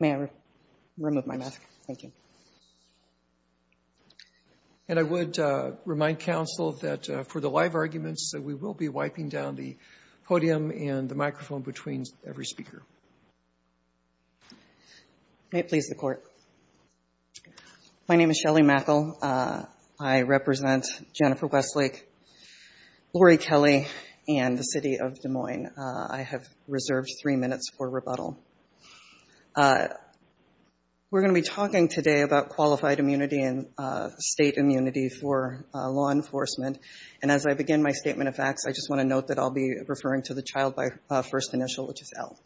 May I remove my mask? Thank you. And I would remind counsel that for the live arguments that we will be wiping down the podium and the microphone between every speaker. May it please the Court. My name is Shelly Mackel. I represent Jennifer Westlake, Lori Kelly, and the City of Des Moines. I have reserved three minutes for rebuttal. We're going to be talking today about qualified immunity and state immunity for law enforcement. And as I begin my statement of facts, I just want to note that I'll be referring to the child by first initial, which is L.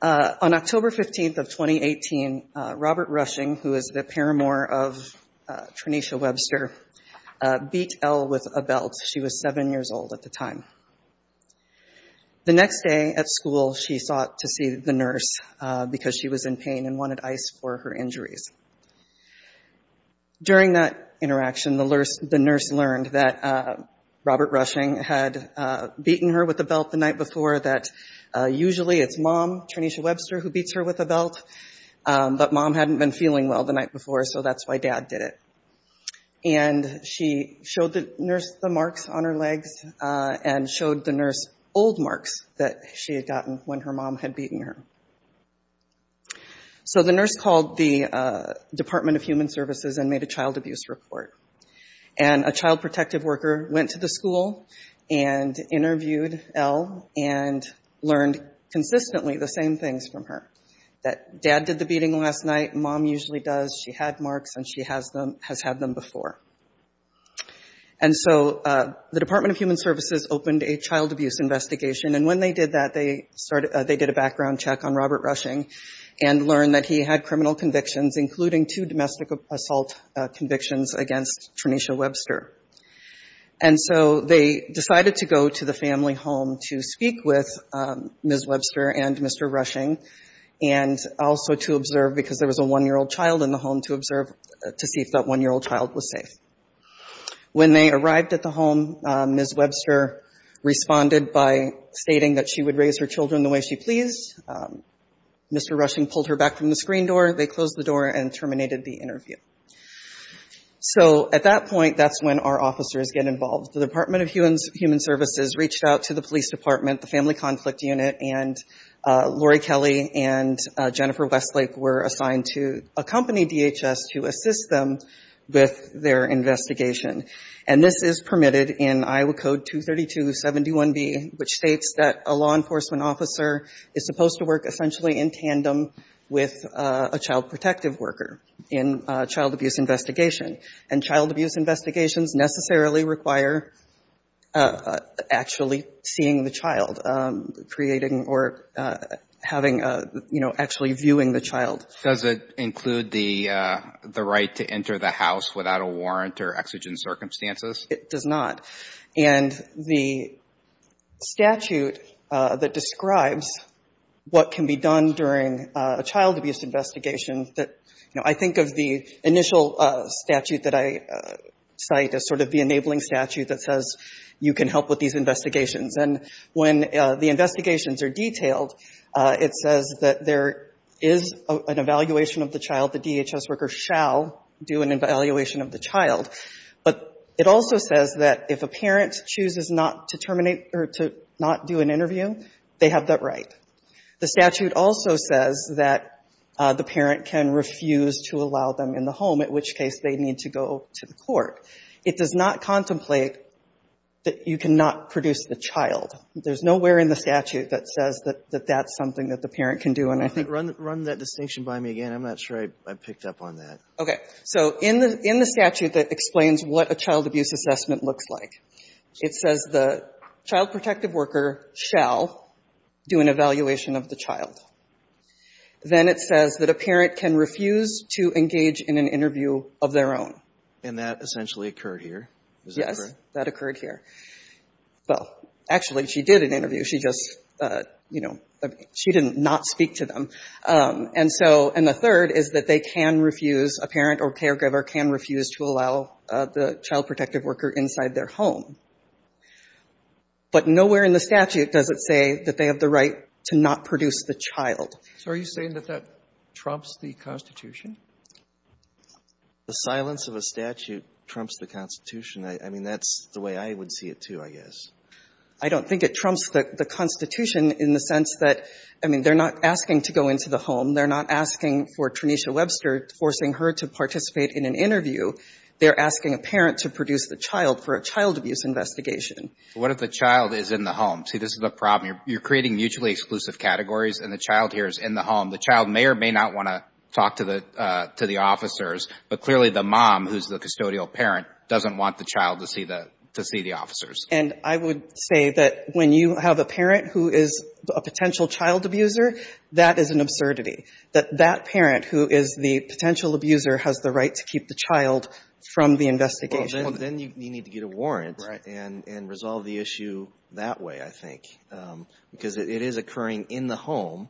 On October 15th of 2018, Robert Rushing, who is the paramour of Trenisha Webster, beat L with a belt. She was seven years old at the time. The next day at school, she sought to see the nurse because she was in pain and wanted ice for her injuries. During that interaction, the nurse learned that Robert Rushing had beaten her with a belt. Usually it's mom, Trenisha Webster, who beats her with a belt, but mom hadn't been feeling well the night before, so that's why dad did it. And she showed the nurse the marks on her legs and showed the nurse old marks that she had gotten when her mom had beaten her. So the nurse called the Department of Human Services and made a child abuse report. And a child protective worker went to the school and interviewed L and learned consistently the same things from her, that dad did the beating last night, mom usually does, she had marks, and she has had them before. And so the Department of Human Services opened a child abuse investigation. And when they did that, they did a background check on Robert Rushing and learned that he had criminal convictions, including two domestic assault convictions against Trenisha Webster. And so they decided to go to the family home to speak with Ms. Webster and Mr. Rushing, and also to observe, because there was a one-year-old child in the home, to see if that one-year-old child was safe. When they arrived at the home, Ms. Webster responded by stating that she would raise her children the way she pleased. Mr. Rushing pulled her back from the screen door, they closed the door, and terminated the interview. So at that point, that's when our officers get involved. The Department of Human Services reached out to the police department, the Family Conflict Unit, and Lori Kelly and Jennifer Westlake were assigned to accompany DHS to assist them with their investigation. And this is permitted in Iowa Code 232.71b, which states that a law enforcement officer is supposed to work essentially in tandem with a child protective worker in a child abuse investigation. And child abuse investigations necessarily require actually seeing the child, creating or having a, you know, actually viewing the child. Does it include the right to enter the house without a warrant or exigent circumstances? It does not. And the statute that describes what can be done during a child abuse investigation that, you know, I think of the initial statute that I cite as sort of the enabling statute that says you can help with these investigations. And when the investigations are detailed, it says that there is an evaluation of the child. The DHS worker shall do an evaluation of the child. But it also says that if a parent chooses not to terminate or to not do an interview, they have that right. The statute also says that the parent can refuse to allow them in the home, at which case they need to go to the court. It does not contemplate that you cannot produce the child. There's nowhere in the statute that says that that's something that the parent can do. And I think... Run that distinction by me again. I'm not sure I picked up on that. Okay. So in the statute that explains what a child abuse assessment looks like, it says the child protective worker shall do an evaluation of the child. Then it says that a parent can refuse to engage in an interview of their own. And that essentially occurred here. Is that correct? Yes. That occurred here. Well, actually, she did an interview. She just, you know, she did not speak to them. And so, and the third is that they can refuse, a parent or caregiver can refuse to allow the child protective worker inside their home. But nowhere in the statute does it say that they have the right to not produce the child. So are you saying that that trumps the Constitution? The silence of a statute trumps the Constitution. I mean, that's the way I would see it too, I guess. I don't think it trumps the Constitution in the sense that, I mean, they're not asking to go into the home. They're not asking for Trenisha Webster, forcing her to participate in an interview. They're asking a parent to produce the child for a child abuse investigation. What if the child is in the home? See, this is the problem. You're creating mutually exclusive categories and the child here is in the home. The child may or may not want to talk to the officers, but clearly the mom, who's the custodial parent, doesn't want the child to see the officers. And I would say that when you have a parent who is a potential child abuser, that is an absurdity, that that parent who is the potential abuser has the right to keep the child from the investigation. Well, then you need to get a warrant and resolve the issue that way, I think, because it is occurring in the home.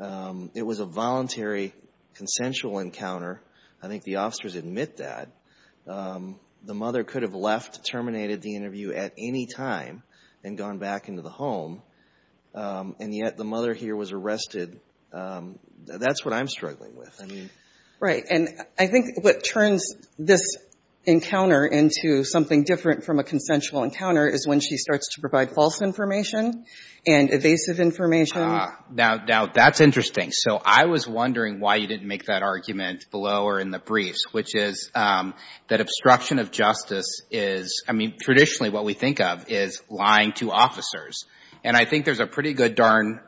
It was a voluntary, consensual encounter. I think the officers admit that. The mother could have left, terminated the interview at any time, and gone back into the home, and yet the mother here was arrested. That's what I'm struggling with. Right. And I think what turns this encounter into something different from a consensual encounter is when she starts to provide false information and evasive information. Now, that's interesting. So I was wondering why you didn't make that argument below or in the briefs, which is that obstruction of justice is, I mean, traditionally what we think of is lying to officers. And I think there's a pretty good darn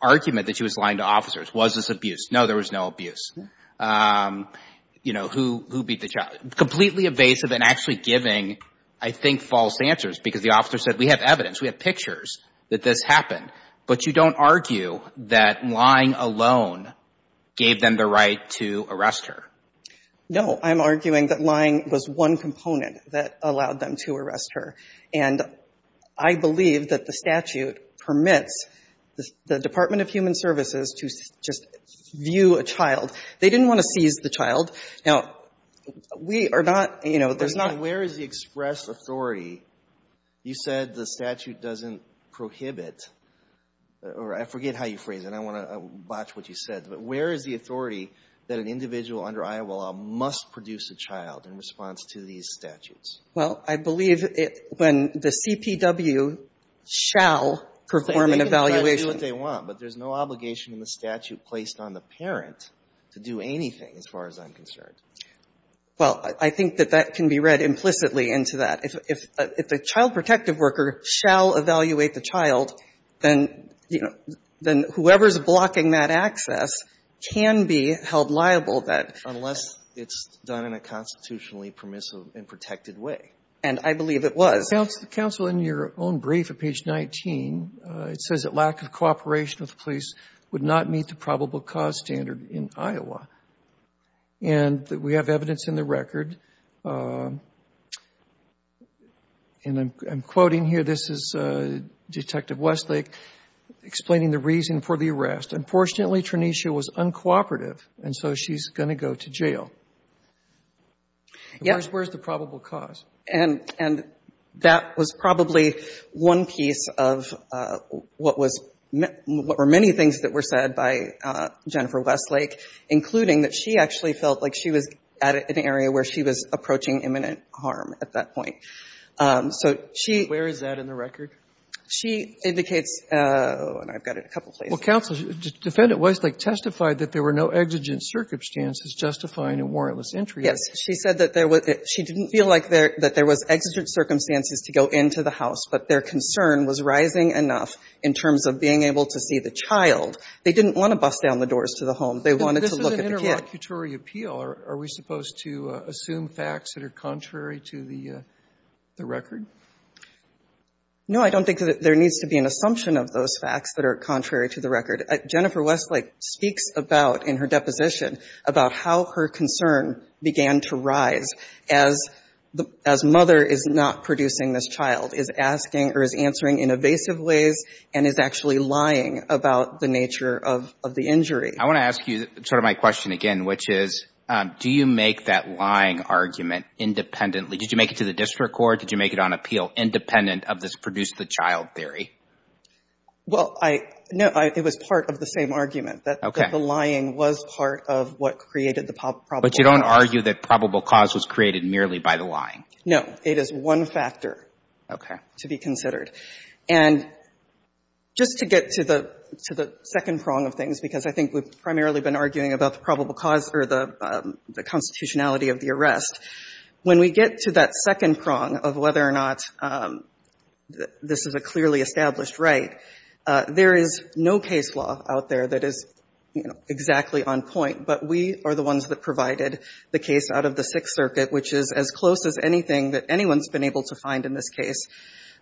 argument that she was lying to officers. Was this abuse? No, there was no abuse. You know, who beat the child? Completely evasive and actually giving, I think, false answers, because the officer said, we have evidence, we have pictures that this happened. But you don't argue that lying alone gave them the right to arrest her? No, I'm arguing that lying was one component that allowed them to arrest her. And I believe that the statute permits the Department of Human Services to just view a child. They didn't want to seize the child. Now, we are not, you know, there's not— Where is the express authority? You said the statute doesn't prohibit, or I forget how you phrase it, I want to botch what you said, but where is the authority that an individual under Iowa law must produce a child in response to these statutes? Well, I believe when the CPW shall perform an evaluation— They can do what they want, but there's no obligation in the statute placed on the parent to do anything, as far as I'm concerned. Well, I think that that can be read implicitly into that. If a child protective worker shall evaluate the child, then, you know, then whoever is blocking that access can be held liable that— Unless it's done in a constitutionally permissive and protected way. And I believe it was. Counsel, in your own brief at page 19, it says that lack of cooperation with the police would not meet the probable cause standard in Iowa. And we have evidence in the record, and I'm quoting here. This is Detective Westlake explaining the reason for the arrest. Unfortunately, Trenicia was uncooperative, and so she's going to go to jail. Where's the probable cause? And that was probably one piece of what was— what were many things that were said by Jennifer Westlake, including that she actually felt like she was at an area where she was approaching imminent harm at that point. So she— Where is that in the record? She indicates—oh, and I've got it a couple places. Well, counsel, Defendant Westlake testified that there were no exigent circumstances justifying a warrantless entry. Yes. She said that there was—she didn't feel like there—that there was exigent circumstances to go into the house, but their concern was rising enough in terms of being able to see the child. They didn't want to bust down the doors to the home. They wanted to look at the kid. But this was an interlocutory appeal. Are we supposed to assume facts that are contrary to the record? No, I don't think that there needs to be an assumption of those facts that are contrary to the record. Jennifer Westlake speaks about, in her deposition, about how her concern began to rise as the—as mother is not producing this child, is asking or is answering in evasive ways and is actually lying about the nature of the injury. I want to ask you sort of my question again, which is, do you make that lying argument independently? Did you make it to the district court? Did you make it on appeal independent of this produce-the-child theory? Well, I — no, it was part of the same argument, that the lying was part of what created the probable cause. But you don't argue that probable cause was created merely by the lying? No. It is one factor to be considered. And just to get to the second prong of things, because I think we've primarily been arguing about the probable cause or the constitutionality of the arrest, when we get to that second prong of whether or not this is a clearly established right, there is no case law out there that is, you know, exactly on point. But we are the ones that provided the case out of the Sixth Circuit, which is as close as anything that anyone's been able to find in this case,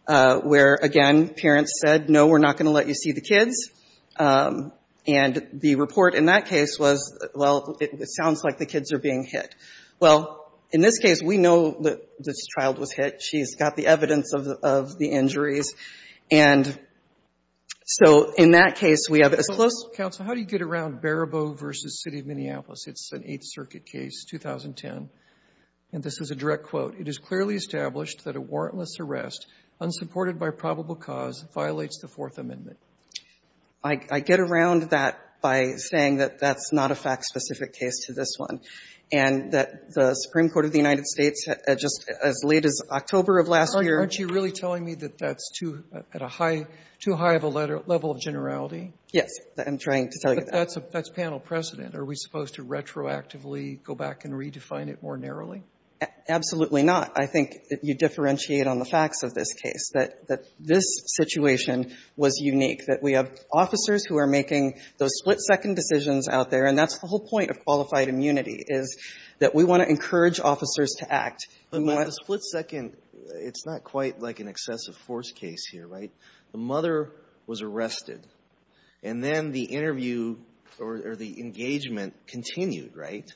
where, again, parents said, no, we're not going to let you see the kids. And the report in that case was, well, it sounds like the kids are being hit. Well, in this case, we know that this child was hit. She's got the evidence of the injuries. And so in that case, we have as close as possible. Counsel, how do you get around Barabow v. City of Minneapolis? It's an Eighth Circuit case, 2010. And this is a direct quote. It is clearly established that a warrantless arrest, unsupported by probable cause, violates the Fourth Amendment. I get around that by saying that that's not a fact-specific case to this one, and that the Supreme Court of the United States, just as late as October of last year. Aren't you really telling me that that's too high of a level of generality? Yes, I'm trying to tell you that. That's panel precedent. Are we supposed to retroactively go back and redefine it more narrowly? Absolutely not. I think you differentiate on the facts of this case, that this situation was unique, that we have officers who are making those split-second decisions out there. And that's the whole point of qualified immunity, is that we want to encourage officers to act. But the split-second, it's not quite like an excessive force case here, right? The mother was arrested, and then the interview or the engagement continued, right?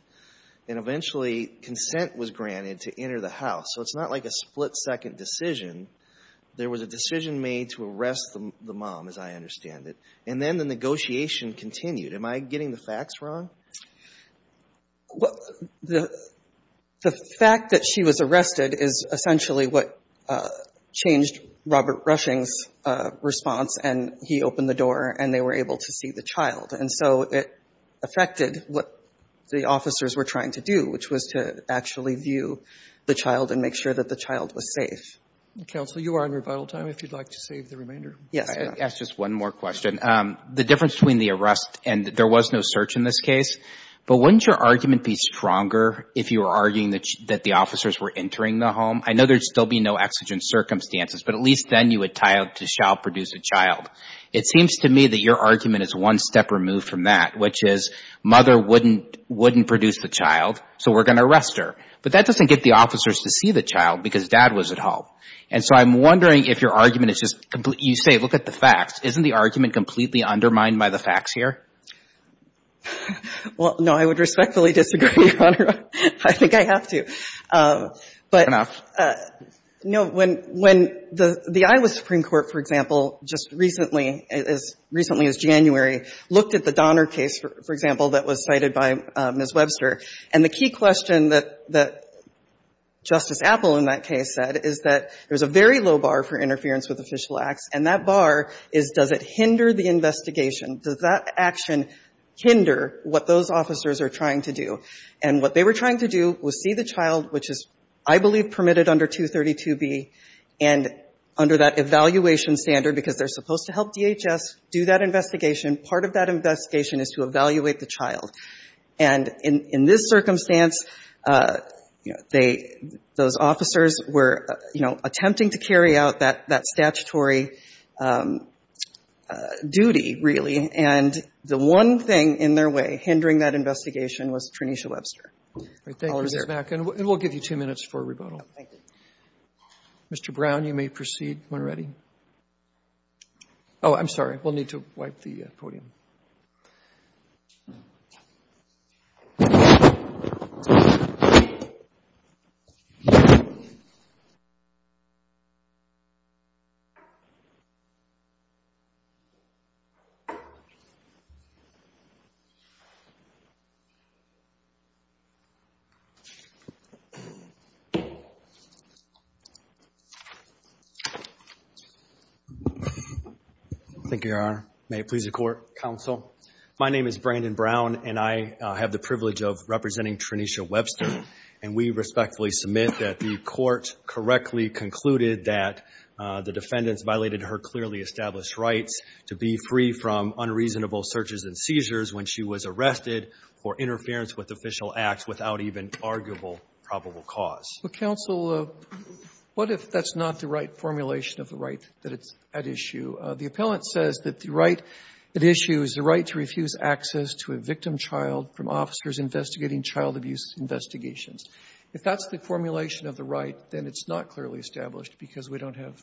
And eventually, consent was granted to enter the house. So it's not like a split-second decision. There was a decision made to arrest the mom, as I understand it. And then the negotiation continued. Am I getting the facts wrong? Well, the fact that she was arrested is essentially what changed Robert Rushing's response. And he opened the door, and they were able to see the child. And so it affected what the officers were trying to do, which was to actually view the child and make sure that the child was safe. Counsel, you are on rebuttal time, if you'd like to save the remainder. Yes. I'll ask just one more question. The difference between the arrest, and there was no search in this case, but wouldn't your argument be stronger if you were arguing that the officers were entering the home? I know there'd still be no exigent circumstances, but at least then you would tie up to shall produce a child. It seems to me that your argument is one step removed from that, which is mother wouldn't produce the child, so we're going to arrest her. But that doesn't get the officers to see the child, because dad was at home. And so I'm wondering if your argument is just, you say, look at the facts. Isn't the argument completely undermined by the facts here? Well, no, I would respectfully disagree, Your Honor. I think I have to. But when the Iowa Supreme Court, for example, just recently, as recently as January, looked at the Donner case, for example, that was cited by Ms. Webster, and the key question that Justice Apple in that case said is that there's a very low bar for does it hinder the investigation? Does that action hinder what those officers are trying to do? And what they were trying to do was see the child, which is, I believe, permitted under 232B, and under that evaluation standard, because they're supposed to help DHS do that investigation, part of that investigation is to evaluate the child. And in this circumstance, you know, they, those officers were, you know, attempting to carry out that statutory duty, really. And the one thing in their way hindering that investigation was Trenisha Webster. All right, thank you, Ms. Mack, and we'll give you two minutes for rebuttal. Thank you. Mr. Brown, you may proceed when ready. Oh, I'm sorry, we'll need to wipe the podium. Thank you, Your Honor. May it please the Court. Counsel, my name is Brandon Brown, and I have the privilege of representing Trenisha Webster, and we respectfully submit that the Court correctly concluded that the defendants violated her clearly established rights to be free from unreasonable searches and seizures when she was arrested for interference with official acts without even arguable probable cause. But, counsel, what if that's not the right formulation of the right that it's at issue? The appellant says that the right at issue is the right to refuse access to a victim child from officers investigating child abuse investigations. If that's the formulation of the right, then it's not clearly established because we don't have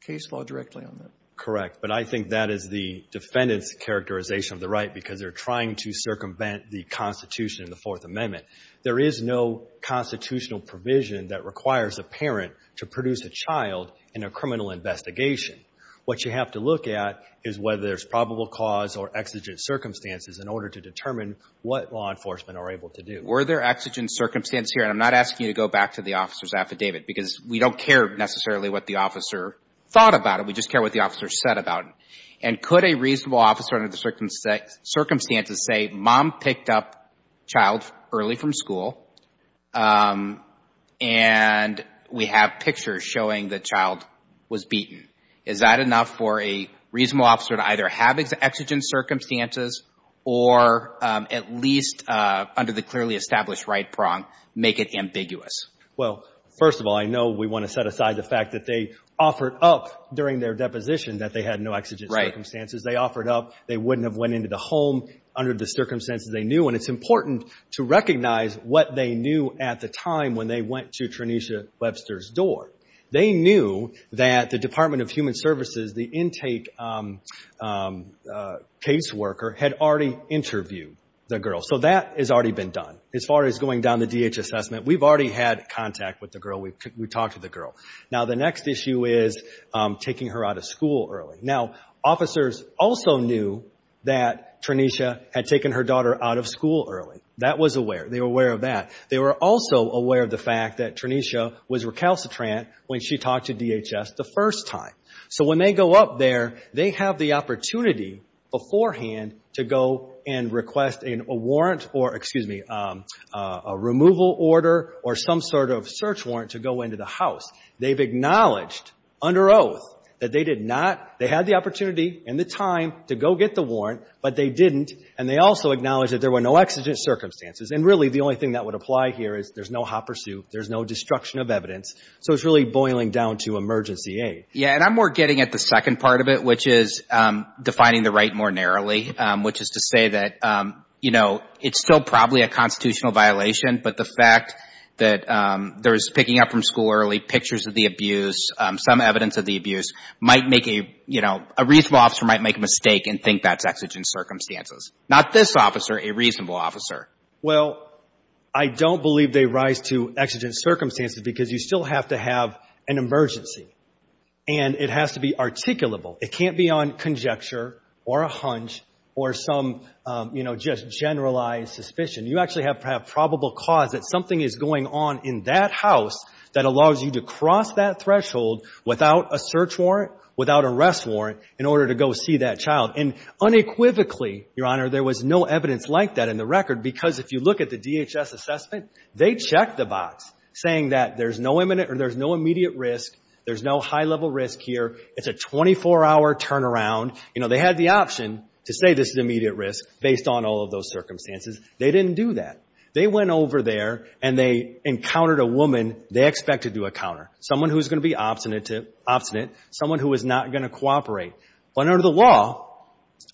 case law directly on that. Correct. But I think that is the defendant's characterization of the right because they're trying to circumvent the Constitution and the Fourth Amendment. There is no constitutional provision that requires a parent to produce a child in a criminal investigation. What you have to look at is whether there's probable cause or exigent circumstances in order to determine what law enforcement are able to do. Were there exigent circumstances here? And I'm not asking you to go back to the officer's affidavit because we don't care necessarily what the officer thought about it. We just care what the officer said about it. And could a reasonable officer under the circumstances say, mom picked up child early from school, and we have pictures showing the child was beaten? Is that enough for a reasonable officer to either have exigent circumstances or at least under the clearly established right prong make it ambiguous? Well, first of all, I know we want to set aside the fact that they offered up during their deposition that they had no exigent circumstances. They offered up. They wouldn't have went into the home under the circumstances they knew. And it's important to recognize what they knew at the time when they went to Trenisha Webster's door. They knew that the Department of Human Services, the intake case worker, had already interviewed the girl. So that has already been done. As far as going down the DH assessment, we've already had contact with the girl. We talked to the girl. Now, the next issue is taking her out of school early. Now, officers also knew that Trenisha had taken her daughter out of school early. That was aware. They were aware of that. They were also aware of the fact that Trenisha was recalcitrant when she talked to DHS the first time. So when they go up there, they have the opportunity beforehand to go and request a warrant or, excuse me, a removal order or some sort of search warrant to go into the house. They've acknowledged under oath that they did not, they had the opportunity and the time to go get the warrant, but they didn't. And they also acknowledged that there were no exigent circumstances. And really, the only thing that would apply here is there's no hot pursuit. There's no destruction of evidence. So it's really boiling down to emergency aid. Yeah, and I'm more getting at the second part of it, which is defining the right more narrowly, which is to say that, you know, it's still probably a constitutional violation, but the fact that there's picking up from school early, pictures of the abuse, some evidence of the abuse might make a, you know, a reasonable officer might make a mistake and think that's exigent circumstances. Not this officer, a reasonable officer. Well, I don't believe they rise to exigent circumstances because you still have to have an emergency and it has to be articulable. It can't be on conjecture or a hunch or some, you know, just generalized suspicion. You actually have probable cause that something is going on in that house that allows you to cross that threshold without a search warrant, without a rest warrant in order to go see that child. And unequivocally, Your Honor, there was no evidence like that in the record because if you look at the DHS assessment, they checked the box saying that there's no imminent or there's no immediate risk, there's no high-level risk here, it's a 24-hour turnaround. You know, they had the option to say this is immediate risk based on all of those circumstances. They didn't do that. They went over there and they encountered a woman they expected to encounter, someone who's going to be obstinate, someone who is not going to cooperate. But under the law,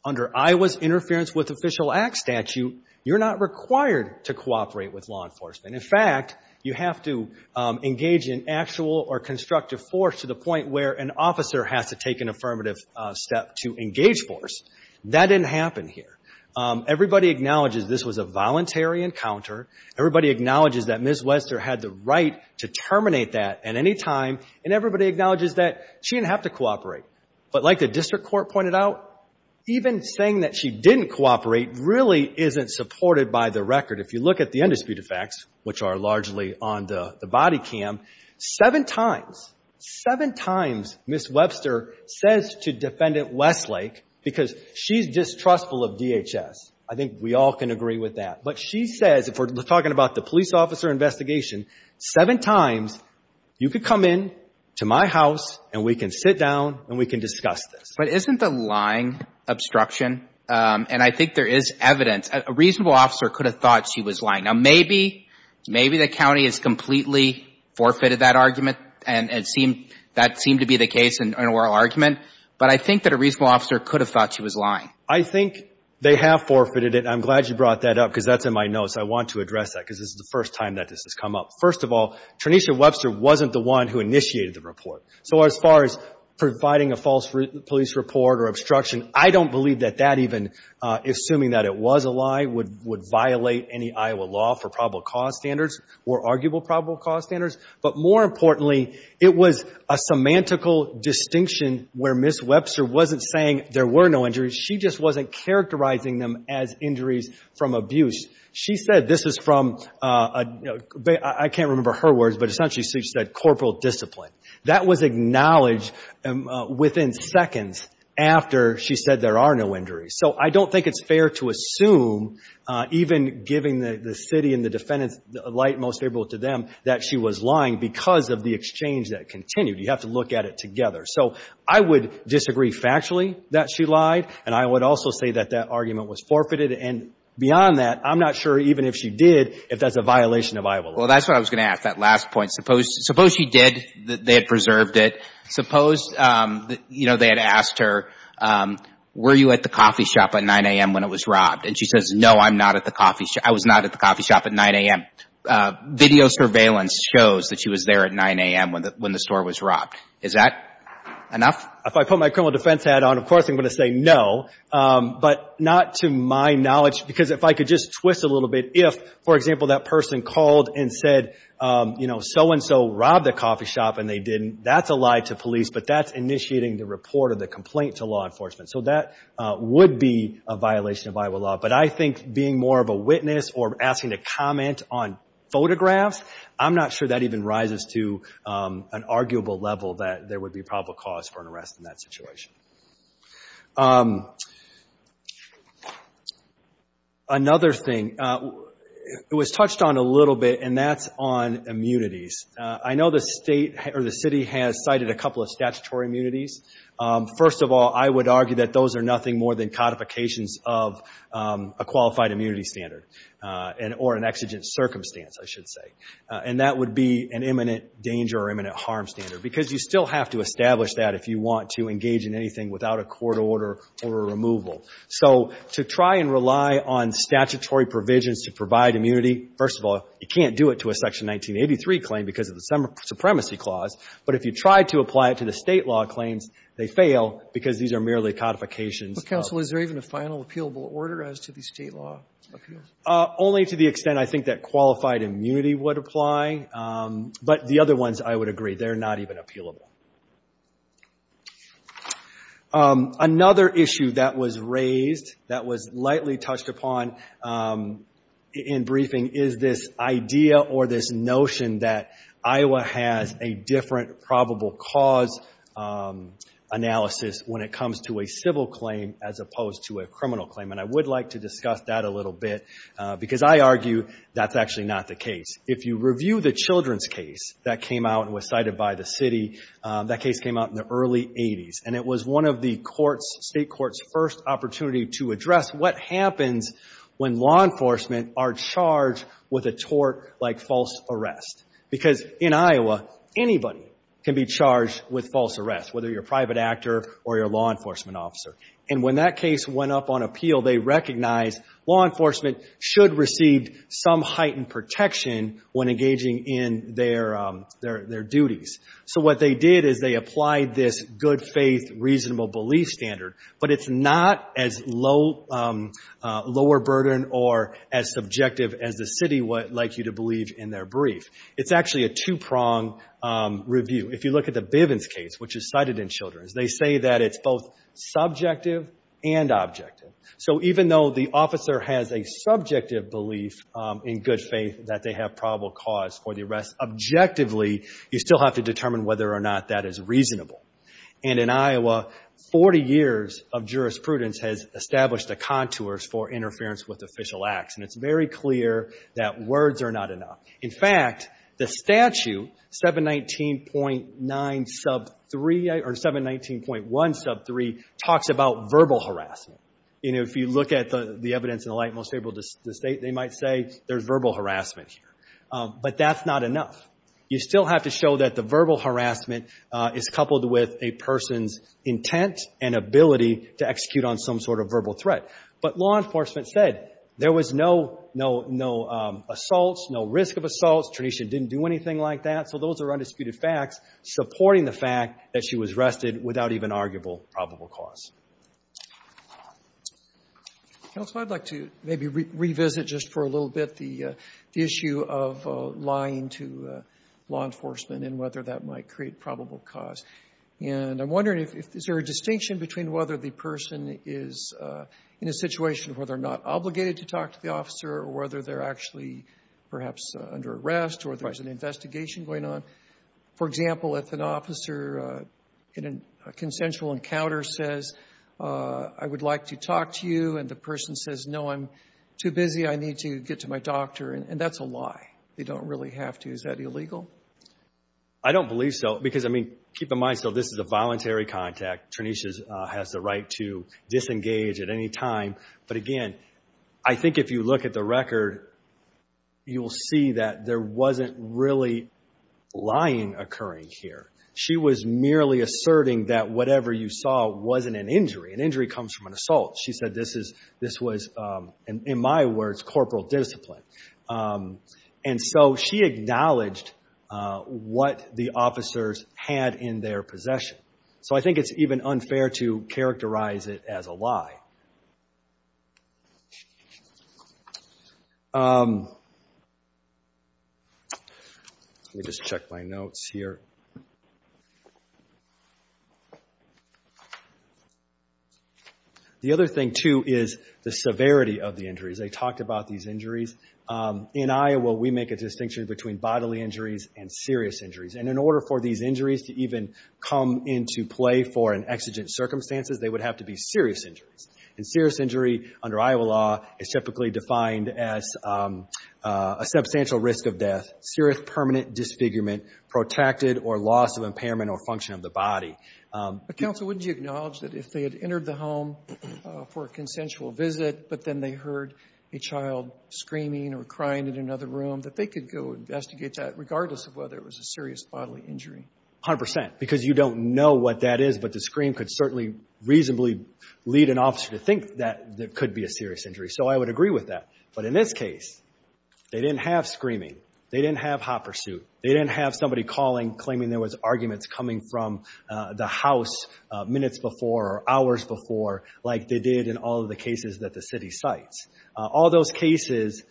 under Iowa's Interference with Official Act statute, you're not required to cooperate with law enforcement. In fact, you have to engage in actual or constructive force to the point where an officer has to take an affirmative step to engage force. That didn't happen here. Everybody acknowledges this was a voluntary encounter. Everybody acknowledges that Ms. Wester had the right to terminate that at any time, and everybody acknowledges that she didn't have to cooperate. But like the district court pointed out, even saying that she didn't cooperate really isn't supported by the record. If you look at the undisputed facts, which are largely on the body cam, seven times, seven times Ms. Wester says to Defendant Westlake, because she's distrustful of DHS, I think we all can agree with that, but she says, if we're talking about the police officer investigation, seven times, you could come in to my house and we can sit down and we can discuss this. But isn't the lying obstruction, and I think there is evidence, a reasonable officer could have thought she was lying. Now maybe, maybe the county has completely forfeited that argument, and that seemed to be the case in oral argument, but I think that a reasonable officer could have thought she was lying. I think they have forfeited it, and I'm glad you brought that up, because that's in my notes. I want to address that, because this is the first time that this has come up. First of all, Trenisha Webster wasn't the one who initiated the report. So as far as providing a false police report or obstruction, I don't believe that that even, assuming that it was a lie, would violate any Iowa law for probable cause standards, or arguable probable cause standards. But more importantly, it was a semantical distinction where Ms. Webster wasn't saying there were no injuries, she just wasn't characterizing them as injuries from abuse. She said, this is from, I can't remember her words, but essentially she said corporal discipline. That was acknowledged within seconds after she said there are no injuries. So I don't think it's fair to assume, even giving the city and the defendants the light most favorable to them, that she was lying because of the exchange that continued. You have to look at it together. So I would disagree factually that she lied, and I would also say that that argument was forfeited, and beyond that, I'm not sure even if she did, if that's a violation of Iowa law. Well, that's what I was going to ask, that last point. Suppose she did, they had preserved it. Suppose they had asked her, were you at the coffee shop at 9 a.m. when it was robbed? And she says, no, I'm not at the coffee shop. I was not at the coffee shop at 9 a.m. Video surveillance shows that she was there at 9 a.m. when the store was robbed. Is that enough? If I put my criminal defense hat on, of course I'm going to say no. But not to my knowledge, because if I could just twist a little bit, if, for example, that person called and said, so-and-so robbed a coffee shop and they didn't, that's a lie to police, but that's initiating the report of the complaint to law enforcement. So that would be a violation of Iowa law. But I think being more of a witness or asking to comment on photographs, I'm not sure that even rises to an arguable level that there would be probable cause for an arrest in that situation. Another thing, it was touched on a little bit, and that's on immunities. I know the state or the city has cited a couple of statutory immunities. First of all, I would argue that those are nothing more than codifications of a qualified immunity standard, or an exigent circumstance, I should say. And that would be an imminent danger or imminent harm standard, because you still have to establish without a court order or a removal. So to try and rely on statutory provisions to provide immunity, first of all, you can't do it to a Section 1983 claim because of the Supremacy Clause. But if you try to apply it to the state law claims, they fail because these are merely codifications. Roberts, counsel, is there even a final appealable order as to the state law appeal? Only to the extent I think that qualified immunity would apply. But the other ones, I would agree. They're not even appealable. Another issue that was raised, that was lightly touched upon in briefing, is this idea or this notion that Iowa has a different probable cause analysis when it comes to a civil claim as opposed to a criminal claim. And I would like to discuss that a little bit, because I argue that's actually not the case. If you review the children's case that came out and was cited by the city, that case came out in the early 80s. And it was one of the state courts' first opportunity to address what happens when law enforcement are charged with a tort like false arrest. Because in Iowa, anybody can be charged with false arrest, whether you're a private actor or you're a law enforcement officer. And when that case went up on appeal, they recognized law enforcement should receive some heightened protection when engaging in their duties. So what they did is they applied this good faith, reasonable belief standard. But it's not as lower burden or as subjective as the city would like you to believe in their brief. It's actually a two-prong review. If you look at the Bivens case, which is cited in Children's, they say that it's both subjective and objective. So even though the officer has a subjective belief in good faith that they have probable cause for the arrest, objectively, you still have to determine whether or not that is reasonable. And in Iowa, 40 years of jurisprudence has established the contours for interference with official acts. And it's very clear that words are not enough. In fact, the statute 719.1 sub 3 talks about verbal harassment. And if you look at the evidence in the light most able to state, they might say there's verbal harassment here. But that's not enough. You still have to show that the verbal harassment is coupled with a person's intent and ability to execute on some sort of verbal threat. But law enforcement said there was no assaults, no risk of assaults. Tanisha didn't do anything like that. So those are undisputed facts supporting the fact that she was arrested without even arguable RONALD DRAPER Counsel, I'd like to maybe revisit just for a little bit the issue of lying to law enforcement and whether that might create probable cause. And I'm wondering, is there a distinction between whether the person is in a situation where they're not obligated to talk to the officer or whether they're actually perhaps under arrest or there's an investigation going on? For example, if an officer in a consensual encounter says, I would like to talk to you, and the person says, no, I'm too busy, I need to get to my doctor, and that's a lie. They don't really have to. Is that illegal? RONALD DRAPER I don't believe so. Because, I mean, keep in mind, so this is a voluntary contact. Tanisha has the right to disengage at any time. But again, I think if you look at the record, you'll see that there wasn't really lying occurring here. She was merely asserting that whatever you saw wasn't an injury. An injury comes from an assault. She said this was, in my words, corporal discipline. And so she acknowledged what the officers had in their possession. So I think it's even unfair to characterize it as a lie. Let me just check my notes here. The other thing, too, is the severity of the injuries. I talked about these injuries. In Iowa, we make a distinction between bodily injuries and serious injuries. And in order for these injuries to even come into play for an exigent circumstances, they would have to be serious injuries. And serious injury, under Iowa law, is typically defined as a substantial risk of death, serious permanent disfigurement, protected, or loss of impairment or function of the body. RONALD DRAPER For a consensual visit, but then they heard a child screaming or crying in another room, that they could go investigate that, regardless of whether it was a serious bodily injury. 100%. Because you don't know what that is. But the scream could certainly reasonably lead an officer to think that it could be a serious injury. So I would agree with that. But in this case, they didn't have screaming. They didn't have hot pursuit. They didn't have somebody calling, claiming there was arguments coming from the house minutes before or hours before, like they did in all of the cases that the city cites. All those cases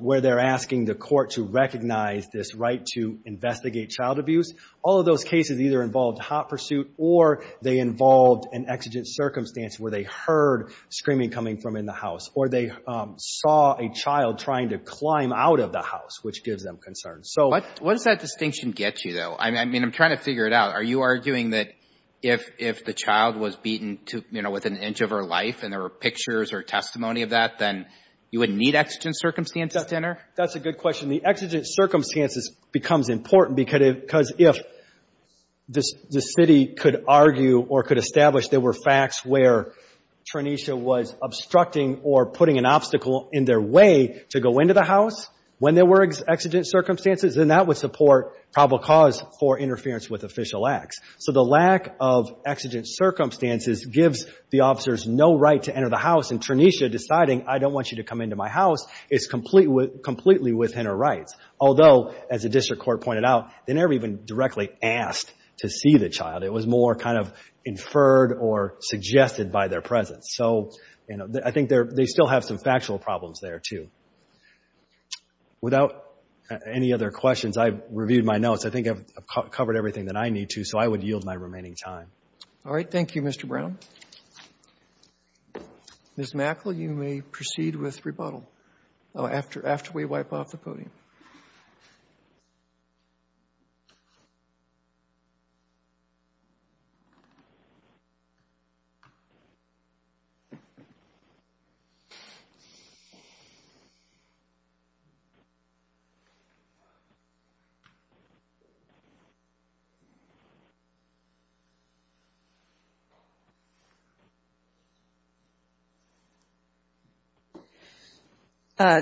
where they're asking the court to recognize this right to investigate child abuse, all of those cases either involved hot pursuit or they involved an exigent circumstance where they heard screaming coming from in the house. Or they saw a child trying to climb out of the house, which gives them concern. So what does that distinction get you, though? I mean, I'm trying to figure it out. Are you arguing that if the child was beaten to, you know, within an inch of her life, and there were pictures or testimony of that, then you would need exigent circumstances to enter? That's a good question. The exigent circumstances becomes important because if the city could argue or could establish there were facts where Tranesha was obstructing or putting an obstacle in their way to go into the house when there were exigent circumstances, then that would support probable cause for So the lack of exigent circumstances gives the officers no right to enter the house, and Tranesha deciding, I don't want you to come into my house, is completely within her rights. Although, as the district court pointed out, they never even directly asked to see the child. It was more kind of inferred or suggested by their presence. So, you know, I think they still have some factual problems there, too. Without any other questions, I've reviewed my notes. I think I've covered everything that I need to, so I would yield my remaining time. All right. Thank you, Mr. Brown. Ms. Mackle, you may proceed with rebuttal after we wipe off the podium.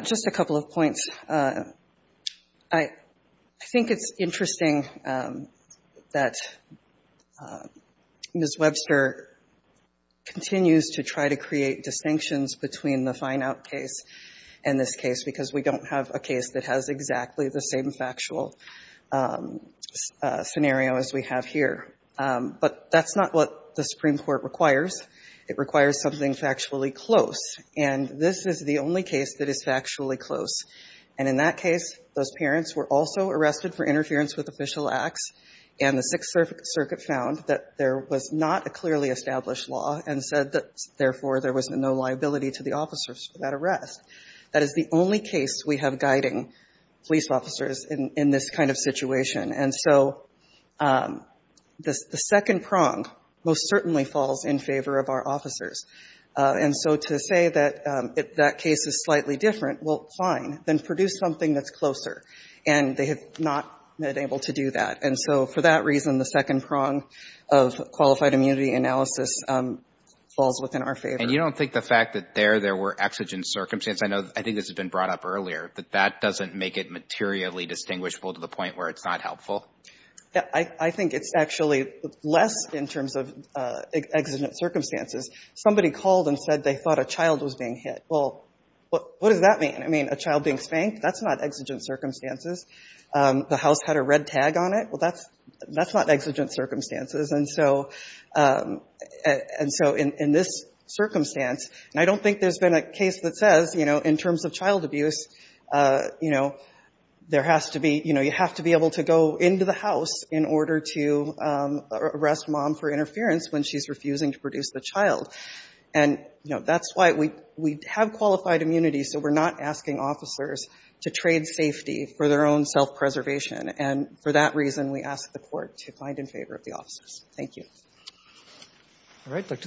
Just a couple of points. I think it's interesting that Ms. Webster continues to try to create distinctions between the fine-out case and this case because we don't have a case that has exactly the same factual scenario as we have here. But that's not what the Supreme Court requires. It requires something factually close. And this is the only case that is factually close. And in that case, those parents were also arrested for interference with official acts. And the Sixth Circuit found that there was not a clearly established law and said that, therefore, there was no liability to the officers for that arrest. That is the only case we have guiding police officers in this kind of situation. And so, the second prong most certainly falls in favor of our officers. And so, to say that that case is slightly different, well, fine. Then produce something that's closer. And they have not been able to do that. And so, for that reason, the second prong of qualified immunity analysis falls within our favor. And you don't think the fact that there, there were exigent circumstances, I know, I think this has been brought up earlier, that that doesn't make it materially distinguishable to the point where it's not helpful. Yeah, I think it's actually less in terms of exigent circumstances. Somebody called and said they thought a child was being hit. Well, what does that mean? I mean, a child being spanked, that's not exigent circumstances. The house had a red tag on it. Well, that's, that's not exigent circumstances. And so, and so, in this circumstance, and I don't think there's been a case that says, you know, in terms of child abuse, you know, there has to be, you know, you have to be able to go into the house in order to arrest mom for interference when she's refusing to produce the child. And, you know, that's why we, we have qualified immunity. So we're not asking officers to trade safety for their own self-preservation. And for that reason, we ask the court to find in favor of the officers. Thank you.